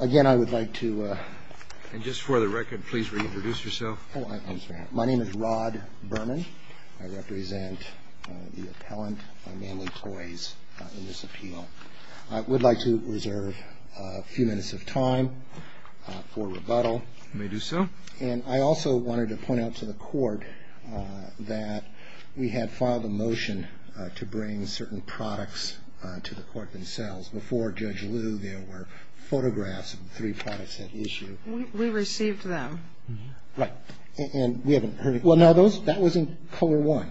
Again, I would like to... And just for the record, please reintroduce yourself. My name is Rod Berman. I represent the appellant, Manley Toys, in this appeal. I would like to reserve a few minutes of time for rebuttal. You may do so. And I also wanted to point out to the court that we had filed a motion to bring certain products to the court themselves. Before Judge Liu, there were photographs of the three products at issue. We received them. Right. And we haven't heard... Well, no, that was in COER-1.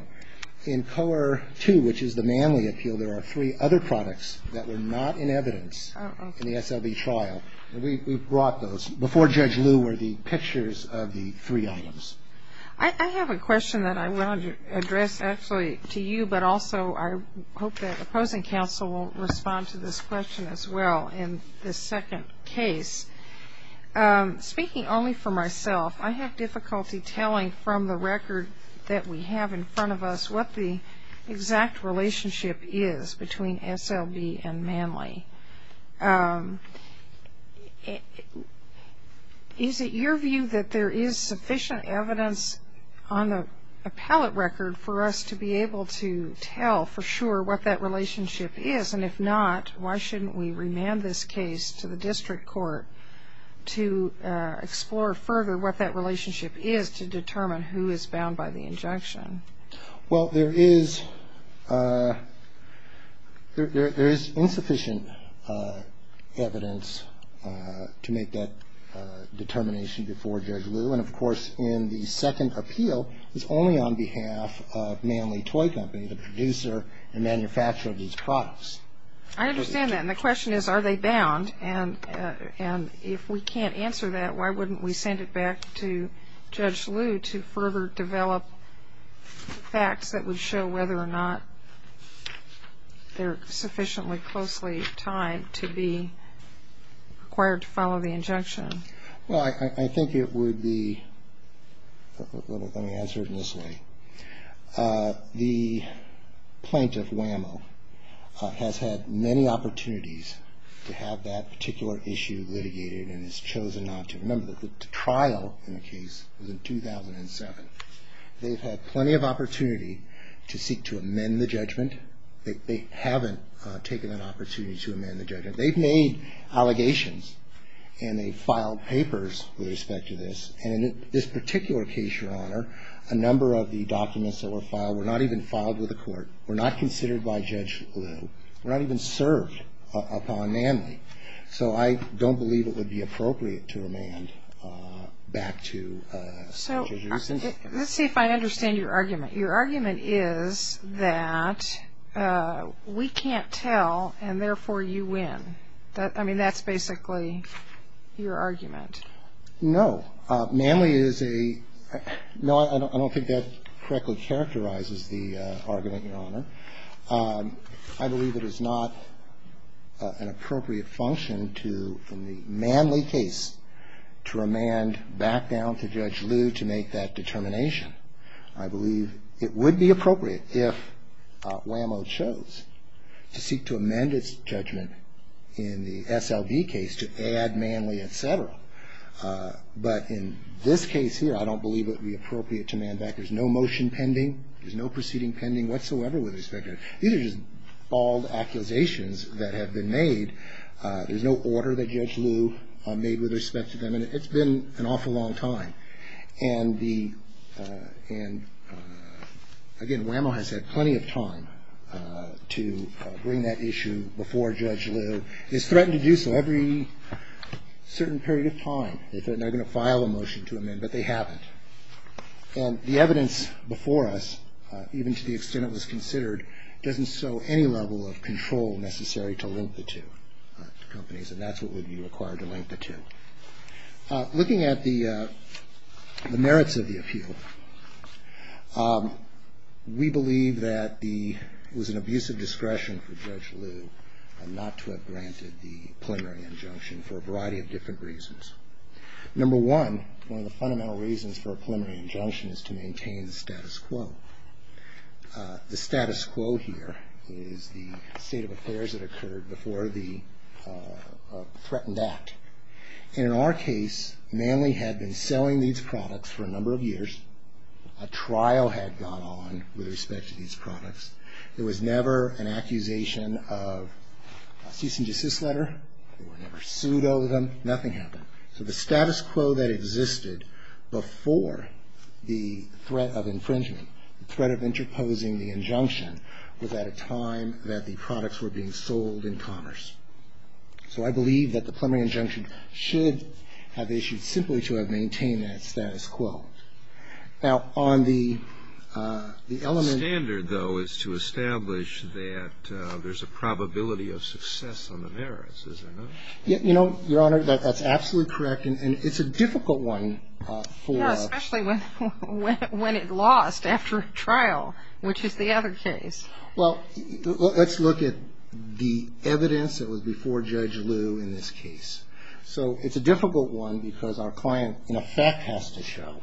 In COER-2, which is the Manley appeal, there are three other products that were not in evidence in the SLB trial. And we brought those. Before Judge Liu were the pictures of the three items. I have a question that I wanted to address actually to you, but also I hope that opposing counsel will respond to this question as well in this second case. Speaking only for myself, I have difficulty telling from the record that we have in front of us what the exact relationship is between SLB and Manley. Is it your view that there is sufficient evidence on the appellate record for us to be able to tell for sure what that relationship is? And if not, why shouldn't we remand this case to the district court to explore further what that relationship is to determine who is bound by the injunction? Well, there is insufficient evidence to make that determination before Judge Liu. And, of course, in the second appeal, it's only on behalf of Manley Toy Company, the producer and manufacturer of these products. I understand that. And the question is, are they bound? And if we can't answer that, why wouldn't we send it back to Judge Liu to further develop facts that would show whether or not they're sufficiently closely tied to be required to follow the injunction? Well, I think it would be – let me answer it in this way. The plaintiff, Wham-O, has had many opportunities to have that particular issue litigated and has chosen not to. Remember, the trial in the case was in 2007. They've had plenty of opportunity to seek to amend the judgment. They haven't taken an opportunity to amend the judgment. They've made allegations and they've filed papers with respect to this. And in this particular case, Your Honor, a number of the documents that were filed were not even filed with the court, were not considered by Judge Liu, were not even served upon Manley. So I don't believe it would be appropriate to amend back to Judge Rubin. So let's see if I understand your argument. Your argument is that we can't tell and, therefore, you win. I mean, that's basically your argument. No. Manley is a – no, I don't think that correctly characterizes the argument, Your Honor. I believe it is not an appropriate function to, in the Manley case, to remand back down to Judge Liu to make that determination. I believe it would be appropriate if WAMO chose to seek to amend its judgment in the SLB case to add Manley, et cetera. But in this case here, I don't believe it would be appropriate to man back. There's no motion pending. There's no proceeding pending whatsoever with respect to it. These are just bald accusations that have been made. There's no order that Judge Liu made with respect to them. And it's been an awful long time. And the – and, again, WAMO has had plenty of time to bring that issue before Judge Liu. It's threatened to do so every certain period of time. They said they're going to file a motion to amend, but they haven't. And the evidence before us, even to the extent it was considered, doesn't show any level of control necessary to link the two companies. And that's what would be required to link the two. Looking at the merits of the appeal, we believe that the – it was an abusive discretion for Judge Liu not to have granted the preliminary injunction for a variety of different reasons. Number one, one of the fundamental reasons for a preliminary injunction is to maintain the status quo. The status quo here is the state of affairs that occurred before the threatened act. And in our case, Manley had been selling these products for a number of years. A trial had gone on with respect to these products. There was never an accusation of cease and desist letter. There were never pseudos of them. Nothing happened. So the status quo that existed before the threat of infringement, the threat of interposing the injunction, was at a time that the products were being sold in commerce. So I believe that the preliminary injunction should have issued simply to have maintained that status quo. Now, on the element of – The standard, though, is to establish that there's a probability of success on the merits, is there not? You know, Your Honor, that's absolutely correct. And it's a difficult one for – Yeah, especially when it lost after a trial, which is the other case. Well, let's look at the evidence that was before Judge Liu in this case. So it's a difficult one because our client, in effect, has to show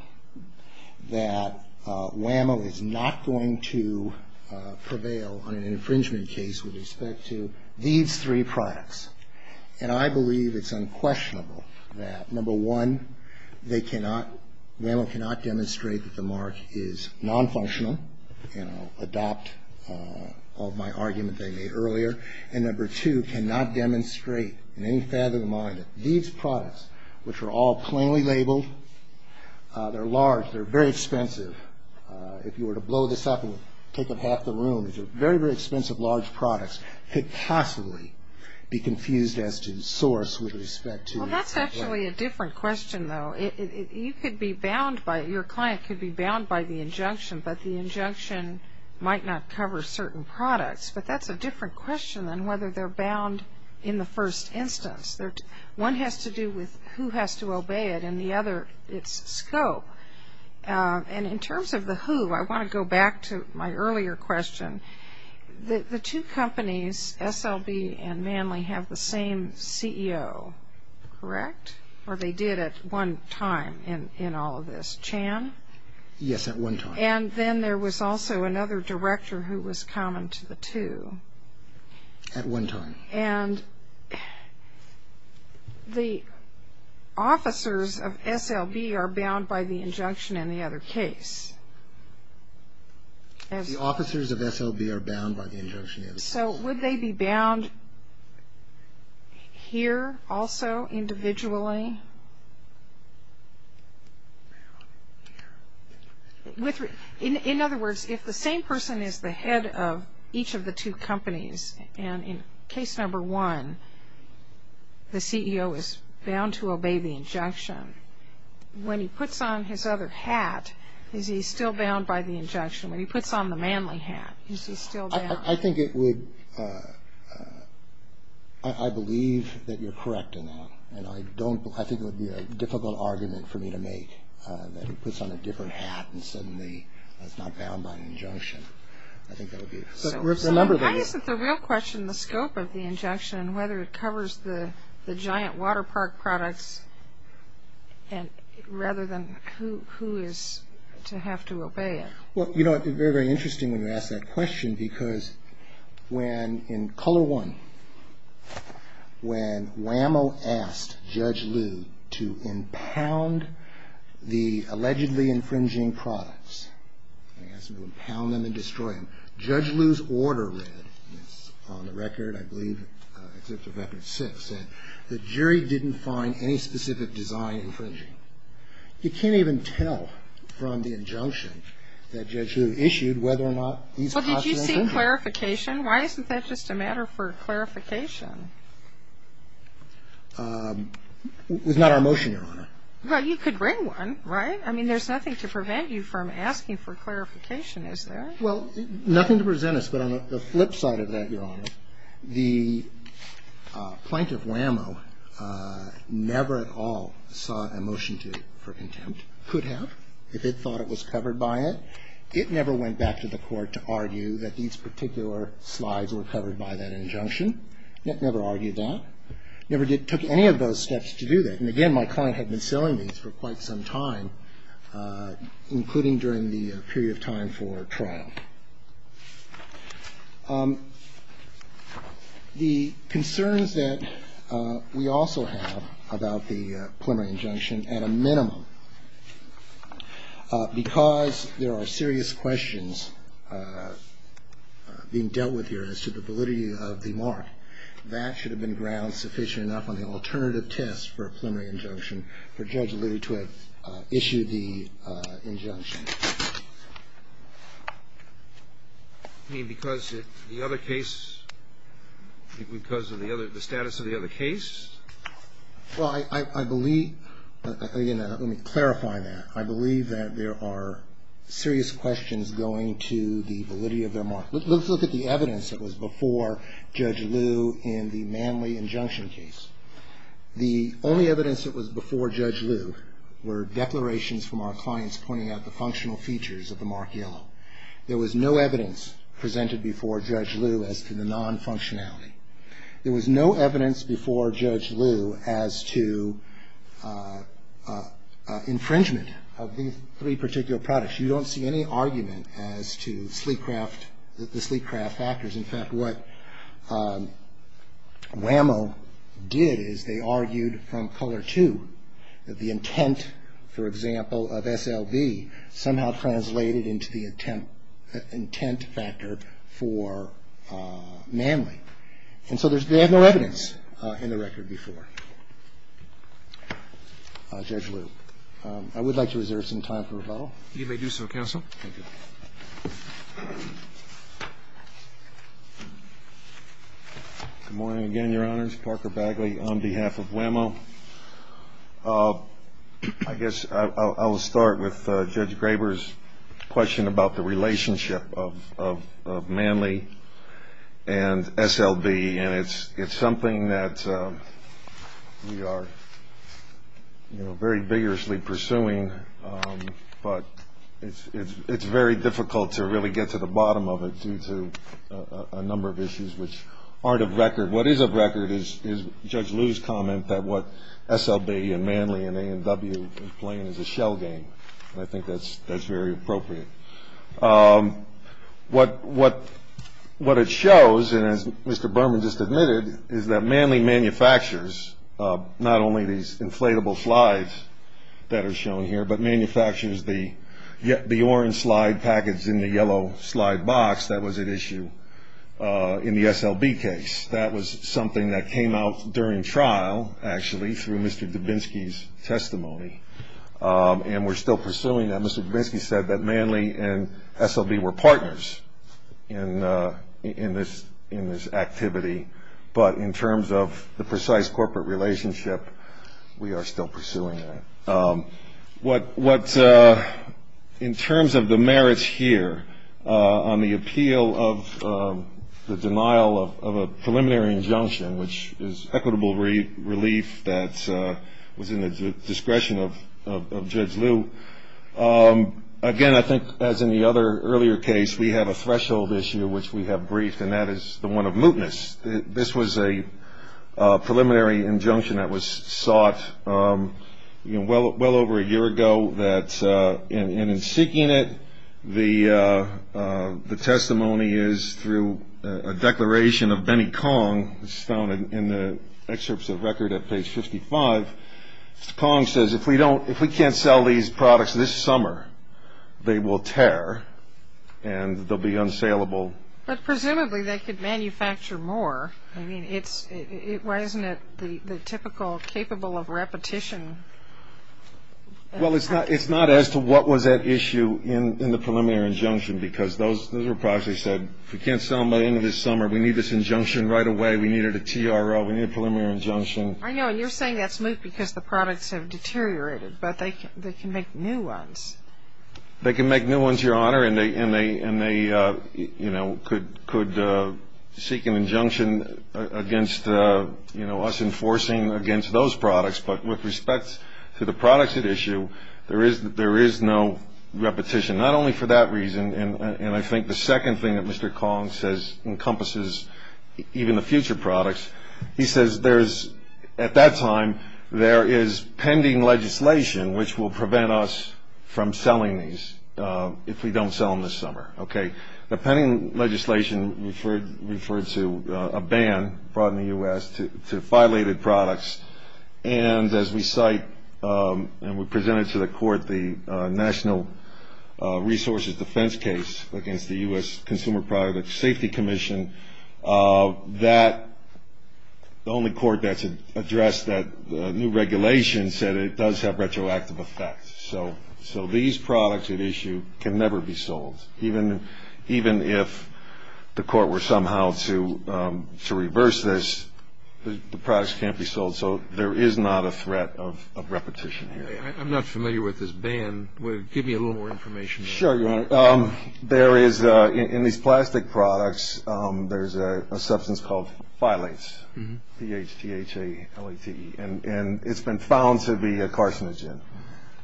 that WAMO is not going to prevail on an infringement case with respect to these three products. And I believe it's unquestionable that, number one, they cannot – adopt all of my argument that I made earlier. And, number two, cannot demonstrate in any fathom of mind that these products, which are all plainly labeled, they're large, they're very expensive. If you were to blow this up and take up half the room, these are very, very expensive large products could possibly be confused as to source with respect to – Well, that's actually a different question, though. You could be bound by – your client could be bound by the injunction, but the injunction might not cover certain products. But that's a different question than whether they're bound in the first instance. One has to do with who has to obey it, and the other its scope. And in terms of the who, I want to go back to my earlier question. The two companies, SLB and Manly, have the same CEO, correct? Or they did at one time in all of this. Chan? Yes, at one time. And then there was also another director who was common to the two. At one time. And the officers of SLB are bound by the injunction in the other case. The officers of SLB are bound by the injunction in the other case. So would they be bound here also individually? In other words, if the same person is the head of each of the two companies, and in case number one the CEO is bound to obey the injunction, when he puts on his other hat, is he still bound by the injunction? When he puts on the Manly hat, is he still bound? I think it would – I believe that you're correct in that. And I don't – I think it would be a difficult argument for me to make, that he puts on a different hat and suddenly is not bound by an injunction. I think that would be – So how is it the real question, the scope of the injunction, and whether it covers the giant Waterpark products, rather than who is to have to obey it? Well, you know, it's very, very interesting when you ask that question, because when in color one, when Wham-O asked Judge Liu to impound the allegedly infringing products, he asked him to impound them and destroy them, Judge Liu's order read, and it's on the record, I believe, Exhibit No. 6, said, the jury didn't find any specific design infringing. You can't even tell from the injunction that Judge Liu issued whether or not these products were infringing. Well, did you see clarification? Why isn't that just a matter for clarification? It was not our motion, Your Honor. Well, you could bring one, right? I mean, there's nothing to prevent you from asking for clarification, is there? Well, nothing to present us, but on the flip side of that, Your Honor, the plaintiff, Wham-O, never at all saw a motion for contempt, could have if it thought it was covered by it. It never went back to the court to argue that these particular slides were covered by that injunction. It never argued that, never took any of those steps to do that, and again, my client had been selling these for quite some time, including during the period of time for trial. The concerns that we also have about the preliminary injunction, at a minimum, because there are serious questions being dealt with here as to the validity of the mark, that should have been ground sufficient enough on the alternative test for a preliminary injunction for Judge Liu to have issued the injunction. You mean because the other case, because of the other, the status of the other case? Well, I believe, again, let me clarify that. I believe that there are serious questions going to the validity of their mark. Let's look at the evidence that was before Judge Liu in the manly injunction case. The only evidence that was before Judge Liu were declarations from our clients pointing out the functional features of the mark yellow. There was no evidence presented before Judge Liu as to the non-functionality. There was no evidence before Judge Liu as to infringement of these three particular products. You don't see any argument as to the sleek craft factors. In fact, what Wham-O did is they argued from color two that the intent, for example, of SLV somehow translated into the intent factor for manly. And so they have no evidence in the record before Judge Liu. I would like to reserve some time for rebuttal. You may do so, counsel. Thank you. Good morning again, Your Honors. Parker Bagley on behalf of Wham-O. I guess I will start with Judge Graber's question about the relationship of manly and SLV. And it's something that we are very vigorously pursuing, but it's very difficult to really get to the bottom of it due to a number of issues which aren't of record. What is of record is Judge Liu's comment that what SLV and manly and A&W are playing is a shell game. And I think that's very appropriate. What it shows, and as Mr. Berman just admitted, is that manly manufactures not only these inflatable slides that are shown here, but manufactures the orange slide package in the yellow slide box that was at issue in the SLV case. That was something that came out during trial, actually, through Mr. Dubinsky's testimony. And we're still pursuing that. Mr. Dubinsky said that manly and SLV were partners in this activity. But in terms of the precise corporate relationship, we are still pursuing that. In terms of the merits here on the appeal of the denial of a preliminary injunction, which is equitable relief that was in the discretion of Judge Liu, again, I think, as in the other earlier case, we have a threshold issue which we have briefed, and that is the one of mootness. This was a preliminary injunction that was sought well over a year ago. And in seeking it, the testimony is through a declaration of Benny Kong. It's found in the excerpts of record at page 55. Mr. Kong says, if we can't sell these products this summer, they will tear and they'll be unsaleable. But presumably, they could manufacture more. I mean, why isn't it the typical capable of repetition? Well, it's not as to what was at issue in the preliminary injunction, because those were products they said, if we can't sell them by the end of this summer, we need this injunction right away. We need a TRO. We need a preliminary injunction. I know, and you're saying that's moot because the products have deteriorated, but they can make new ones. They can make new ones, Your Honor, and they could seek an injunction against us enforcing against those products. But with respect to the products at issue, there is no repetition, not only for that reason, and I think the second thing that Mr. Kong says encompasses even the future products, he says at that time there is pending legislation which will prevent us from selling these if we don't sell them this summer. Okay. The pending legislation referred to a ban brought in the U.S. to violate the products, and as we cite and we presented to the court the National Resources Defense Case against the U.S. Consumer Product Safety Commission, that the only court that's addressed that new regulation said it does have retroactive effects. So these products at issue can never be sold. Even if the court were somehow to reverse this, the products can't be sold. So there is not a threat of repetition here. I'm not familiar with this ban. Sure, Your Honor. There is, in these plastic products, there's a substance called phylates, P-H-T-H-A-L-A-T-E, and it's been found to be a carcinogen.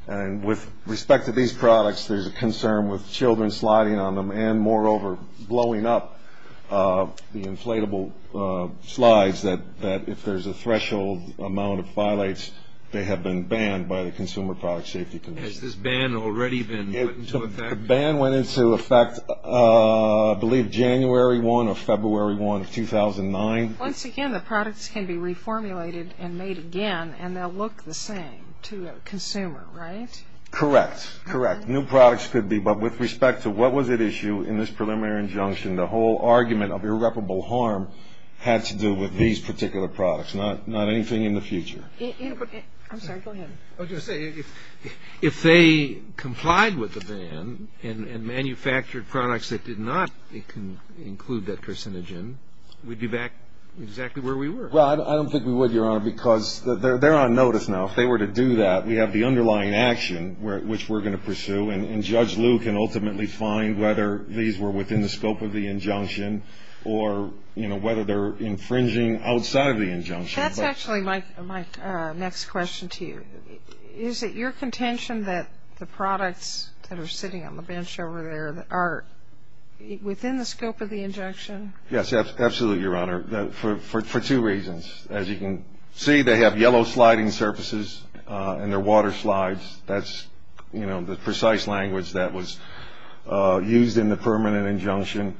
And with respect to these products, there's a concern with children sliding on them and moreover blowing up the inflatable slides that if there's a threshold amount of phylates, they have been banned by the Consumer Product Safety Commission. Has this ban already been put into effect? The ban went into effect, I believe, January 1 or February 1 of 2009. Once again, the products can be reformulated and made again, and they'll look the same to a consumer, right? Correct, correct. New products could be, but with respect to what was at issue in this preliminary injunction, the whole argument of irreparable harm had to do with these particular products, not anything in the future. I'm sorry, go ahead. I was going to say, if they complied with the ban and manufactured products that did not include that carcinogen, we'd be back exactly where we were. Well, I don't think we would, Your Honor, because they're on notice now. If they were to do that, we have the underlying action which we're going to pursue, and Judge Liu can ultimately find whether these were within the scope of the injunction or, you know, whether they're infringing outside of the injunction. That's actually my next question to you. Is it your contention that the products that are sitting on the bench over there are within the scope of the injunction? Yes, absolutely, Your Honor, for two reasons. As you can see, they have yellow sliding surfaces, and they're water slides. That's, you know, the precise language that was used in the permanent injunction.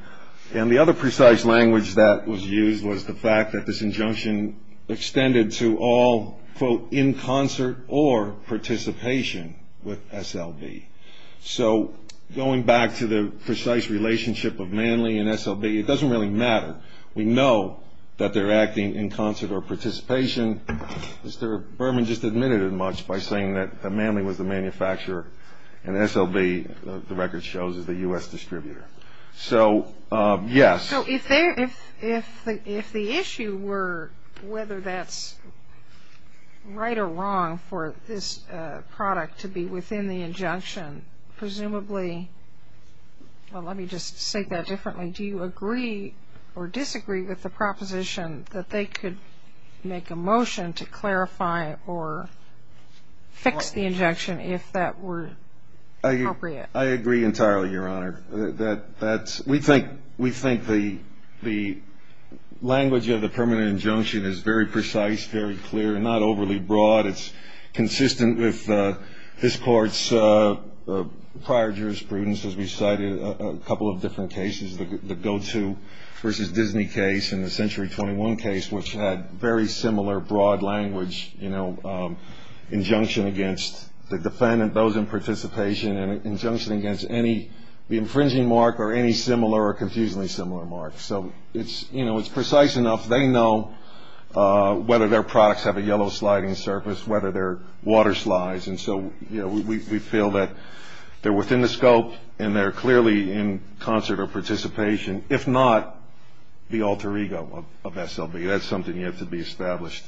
And the other precise language that was used was the fact that this injunction extended to all, quote, in concert or participation with SLB. So going back to the precise relationship of Manley and SLB, it doesn't really matter. We know that they're acting in concert or participation. Mr. Berman just admitted it much by saying that Manley was the manufacturer and SLB, the record shows, is the U.S. distributor. So, yes. So if the issue were whether that's right or wrong for this product to be within the injunction, presumably, well, let me just say that differently. Do you agree or disagree with the proposition that they could make a motion to clarify or fix the injunction if that were appropriate? I agree entirely, Your Honor. We think the language of the permanent injunction is very precise, very clear, and not overly broad. It's consistent with this Court's prior jurisprudence, as we cited a couple of different cases, the GOTO versus Disney case and the Century 21 case, which had very similar broad language, you know, and injunction against any infringing mark or any similar or confusingly similar mark. So it's, you know, it's precise enough. They know whether their products have a yellow sliding surface, whether they're water slides. And so, you know, we feel that they're within the scope and they're clearly in concert or participation, if not the alter ego of SLB. That's something yet to be established.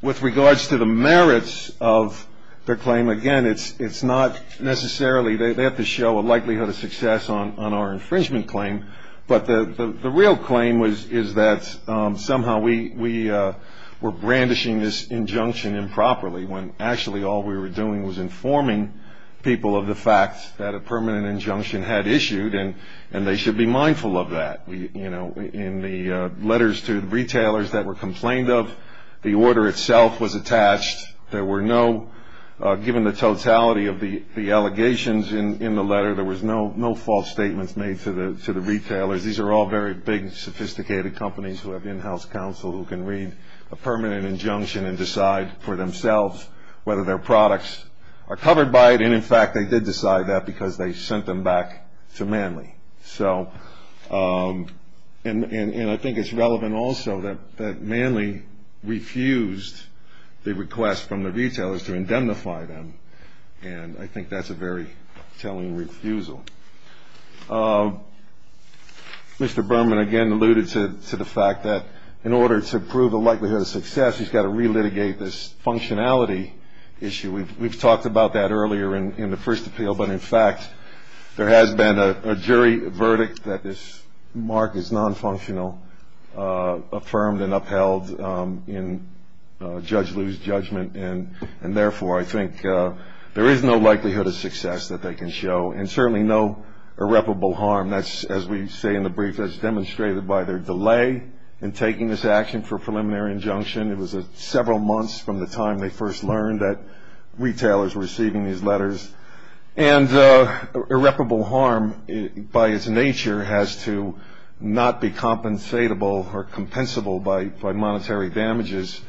With regards to the merits of their claim, again, it's not necessarily, they have to show a likelihood of success on our infringement claim. But the real claim is that somehow we were brandishing this injunction improperly, when actually all we were doing was informing people of the fact that a permanent injunction had issued, and they should be mindful of that. In the letters to the retailers that were complained of, the order itself was attached. There were no, given the totality of the allegations in the letter, there was no false statements made to the retailers. These are all very big, sophisticated companies who have in-house counsel who can read a permanent injunction and decide for themselves whether their products are covered by it. And, in fact, they did decide that because they sent them back to Manly. So, and I think it's relevant also that Manly refused the request from the retailers to indemnify them, and I think that's a very telling refusal. Mr. Berman again alluded to the fact that in order to prove a likelihood of success, he's got to relitigate this functionality issue. We've talked about that earlier in the first appeal, but, in fact, there has been a jury verdict that this mark is non-functional, affirmed and upheld in Judge Liu's judgment, and, therefore, I think there is no likelihood of success that they can show, and certainly no irreparable harm. That's, as we say in the brief, that's demonstrated by their delay in taking this action for preliminary injunction. It was several months from the time they first learned that retailers were receiving these letters. And irreparable harm, by its nature, has to not be compensatable or compensable by monetary damages.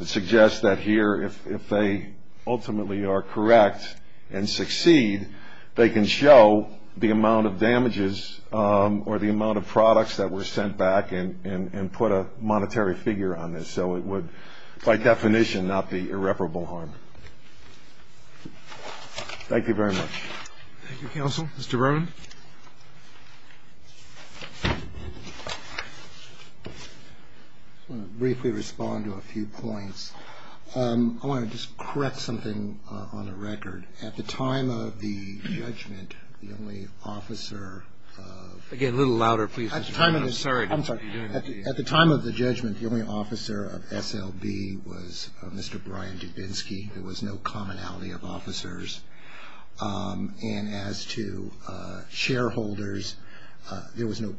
It suggests that here, if they ultimately are correct and succeed, they can show the amount of damages or the amount of products that were sent back and put a monetary figure on this. So it would, by definition, not be irreparable harm. Thank you very much. Roberts. Thank you, counsel. Mr. Berman. I just want to briefly respond to a few points. I want to just correct something on the record. At the time of the judgment, the only officer of the court. Again, a little louder, please, Mr. Berman. I'm sorry. I'm sorry. At the time of the judgment, the only officer of SLB was Mr. Brian Dubinsky. There was no commonality of officers. And as to shareholders, there was no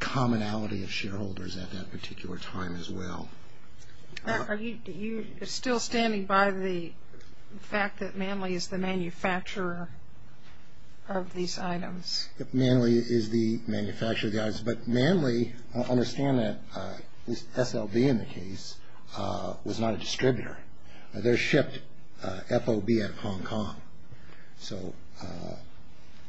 commonality of shareholders at that particular time as well. Are you still standing by the fact that Manley is the manufacturer of these items? Manley is the manufacturer of the items. But Manley, I understand that SLB in the case was not a distributor. They shipped FOB out of Hong Kong. So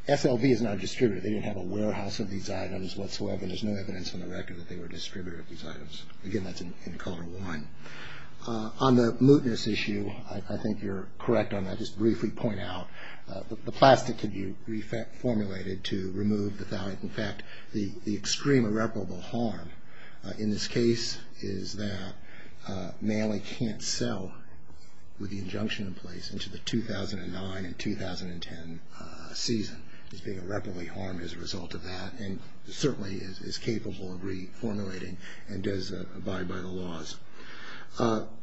SLB is not a distributor. They didn't have a warehouse of these items whatsoever. And there's no evidence on the record that they were a distributor of these items. Again, that's in color one. On the mootness issue, I think you're correct on that. I'll just briefly point out the plastic can be reformulated to remove the thalate. In fact, the extreme irreparable harm in this case is that Manley can't sell with the injunction in place into the 2009 and 2010 season. It's being irreparably harmed as a result of that and certainly is capable of reformulating and does abide by the laws.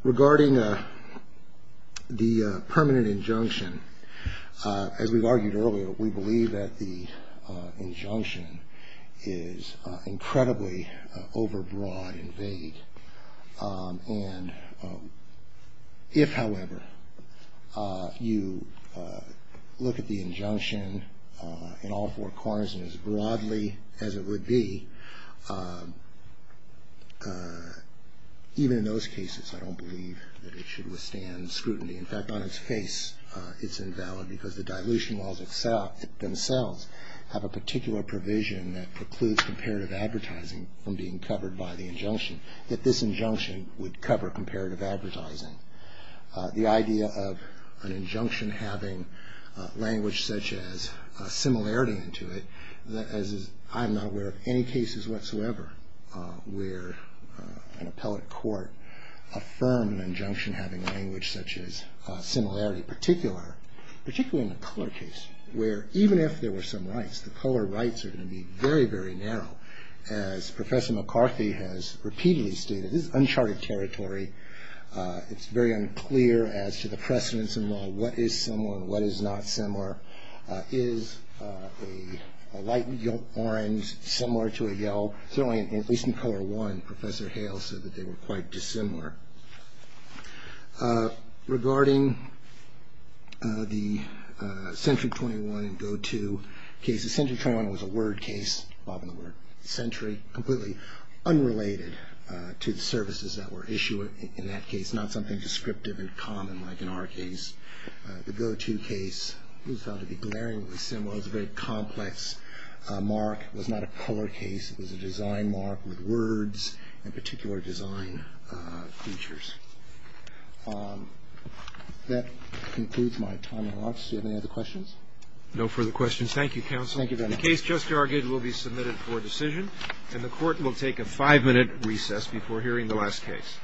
Regarding the permanent injunction, as we've argued earlier, we believe that the injunction is incredibly overbroad and vague. And if, however, you look at the injunction in all four corners and as broadly as it would be, even in those cases, I don't believe that it should withstand scrutiny. In fact, on its face, it's invalid because the dilution laws themselves have a particular provision that precludes comparative advertising from being covered by the injunction, that this injunction would cover comparative advertising. The idea of an injunction having language such as similarity to it, as I'm not aware of any cases whatsoever where an appellate court affirmed an injunction having language such as similarity, particularly in the color case, where even if there were some rights, the color rights are going to be very, very narrow. As Professor McCarthy has repeatedly stated, this is uncharted territory. It's very unclear as to the precedence in law. What is similar and what is not similar? Is a light orange similar to a yellow? Certainly, at least in color one, Professor Hale said that they were quite dissimilar. Regarding the Century 21 and Go To cases, Century 21 was a word case, above the word century, completely unrelated to the services that were issued in that case, not something descriptive and common like in our case. The Go To case was found to be glaringly similar. It was a very complex mark. It was not a color case. It was a design mark with words and particular design features. That concludes my time in office. Do you have any other questions? No further questions. Thank you, Counsel. Thank you very much. The case just argued will be submitted for decision, and the Court will take a five-minute recess before hearing the last case.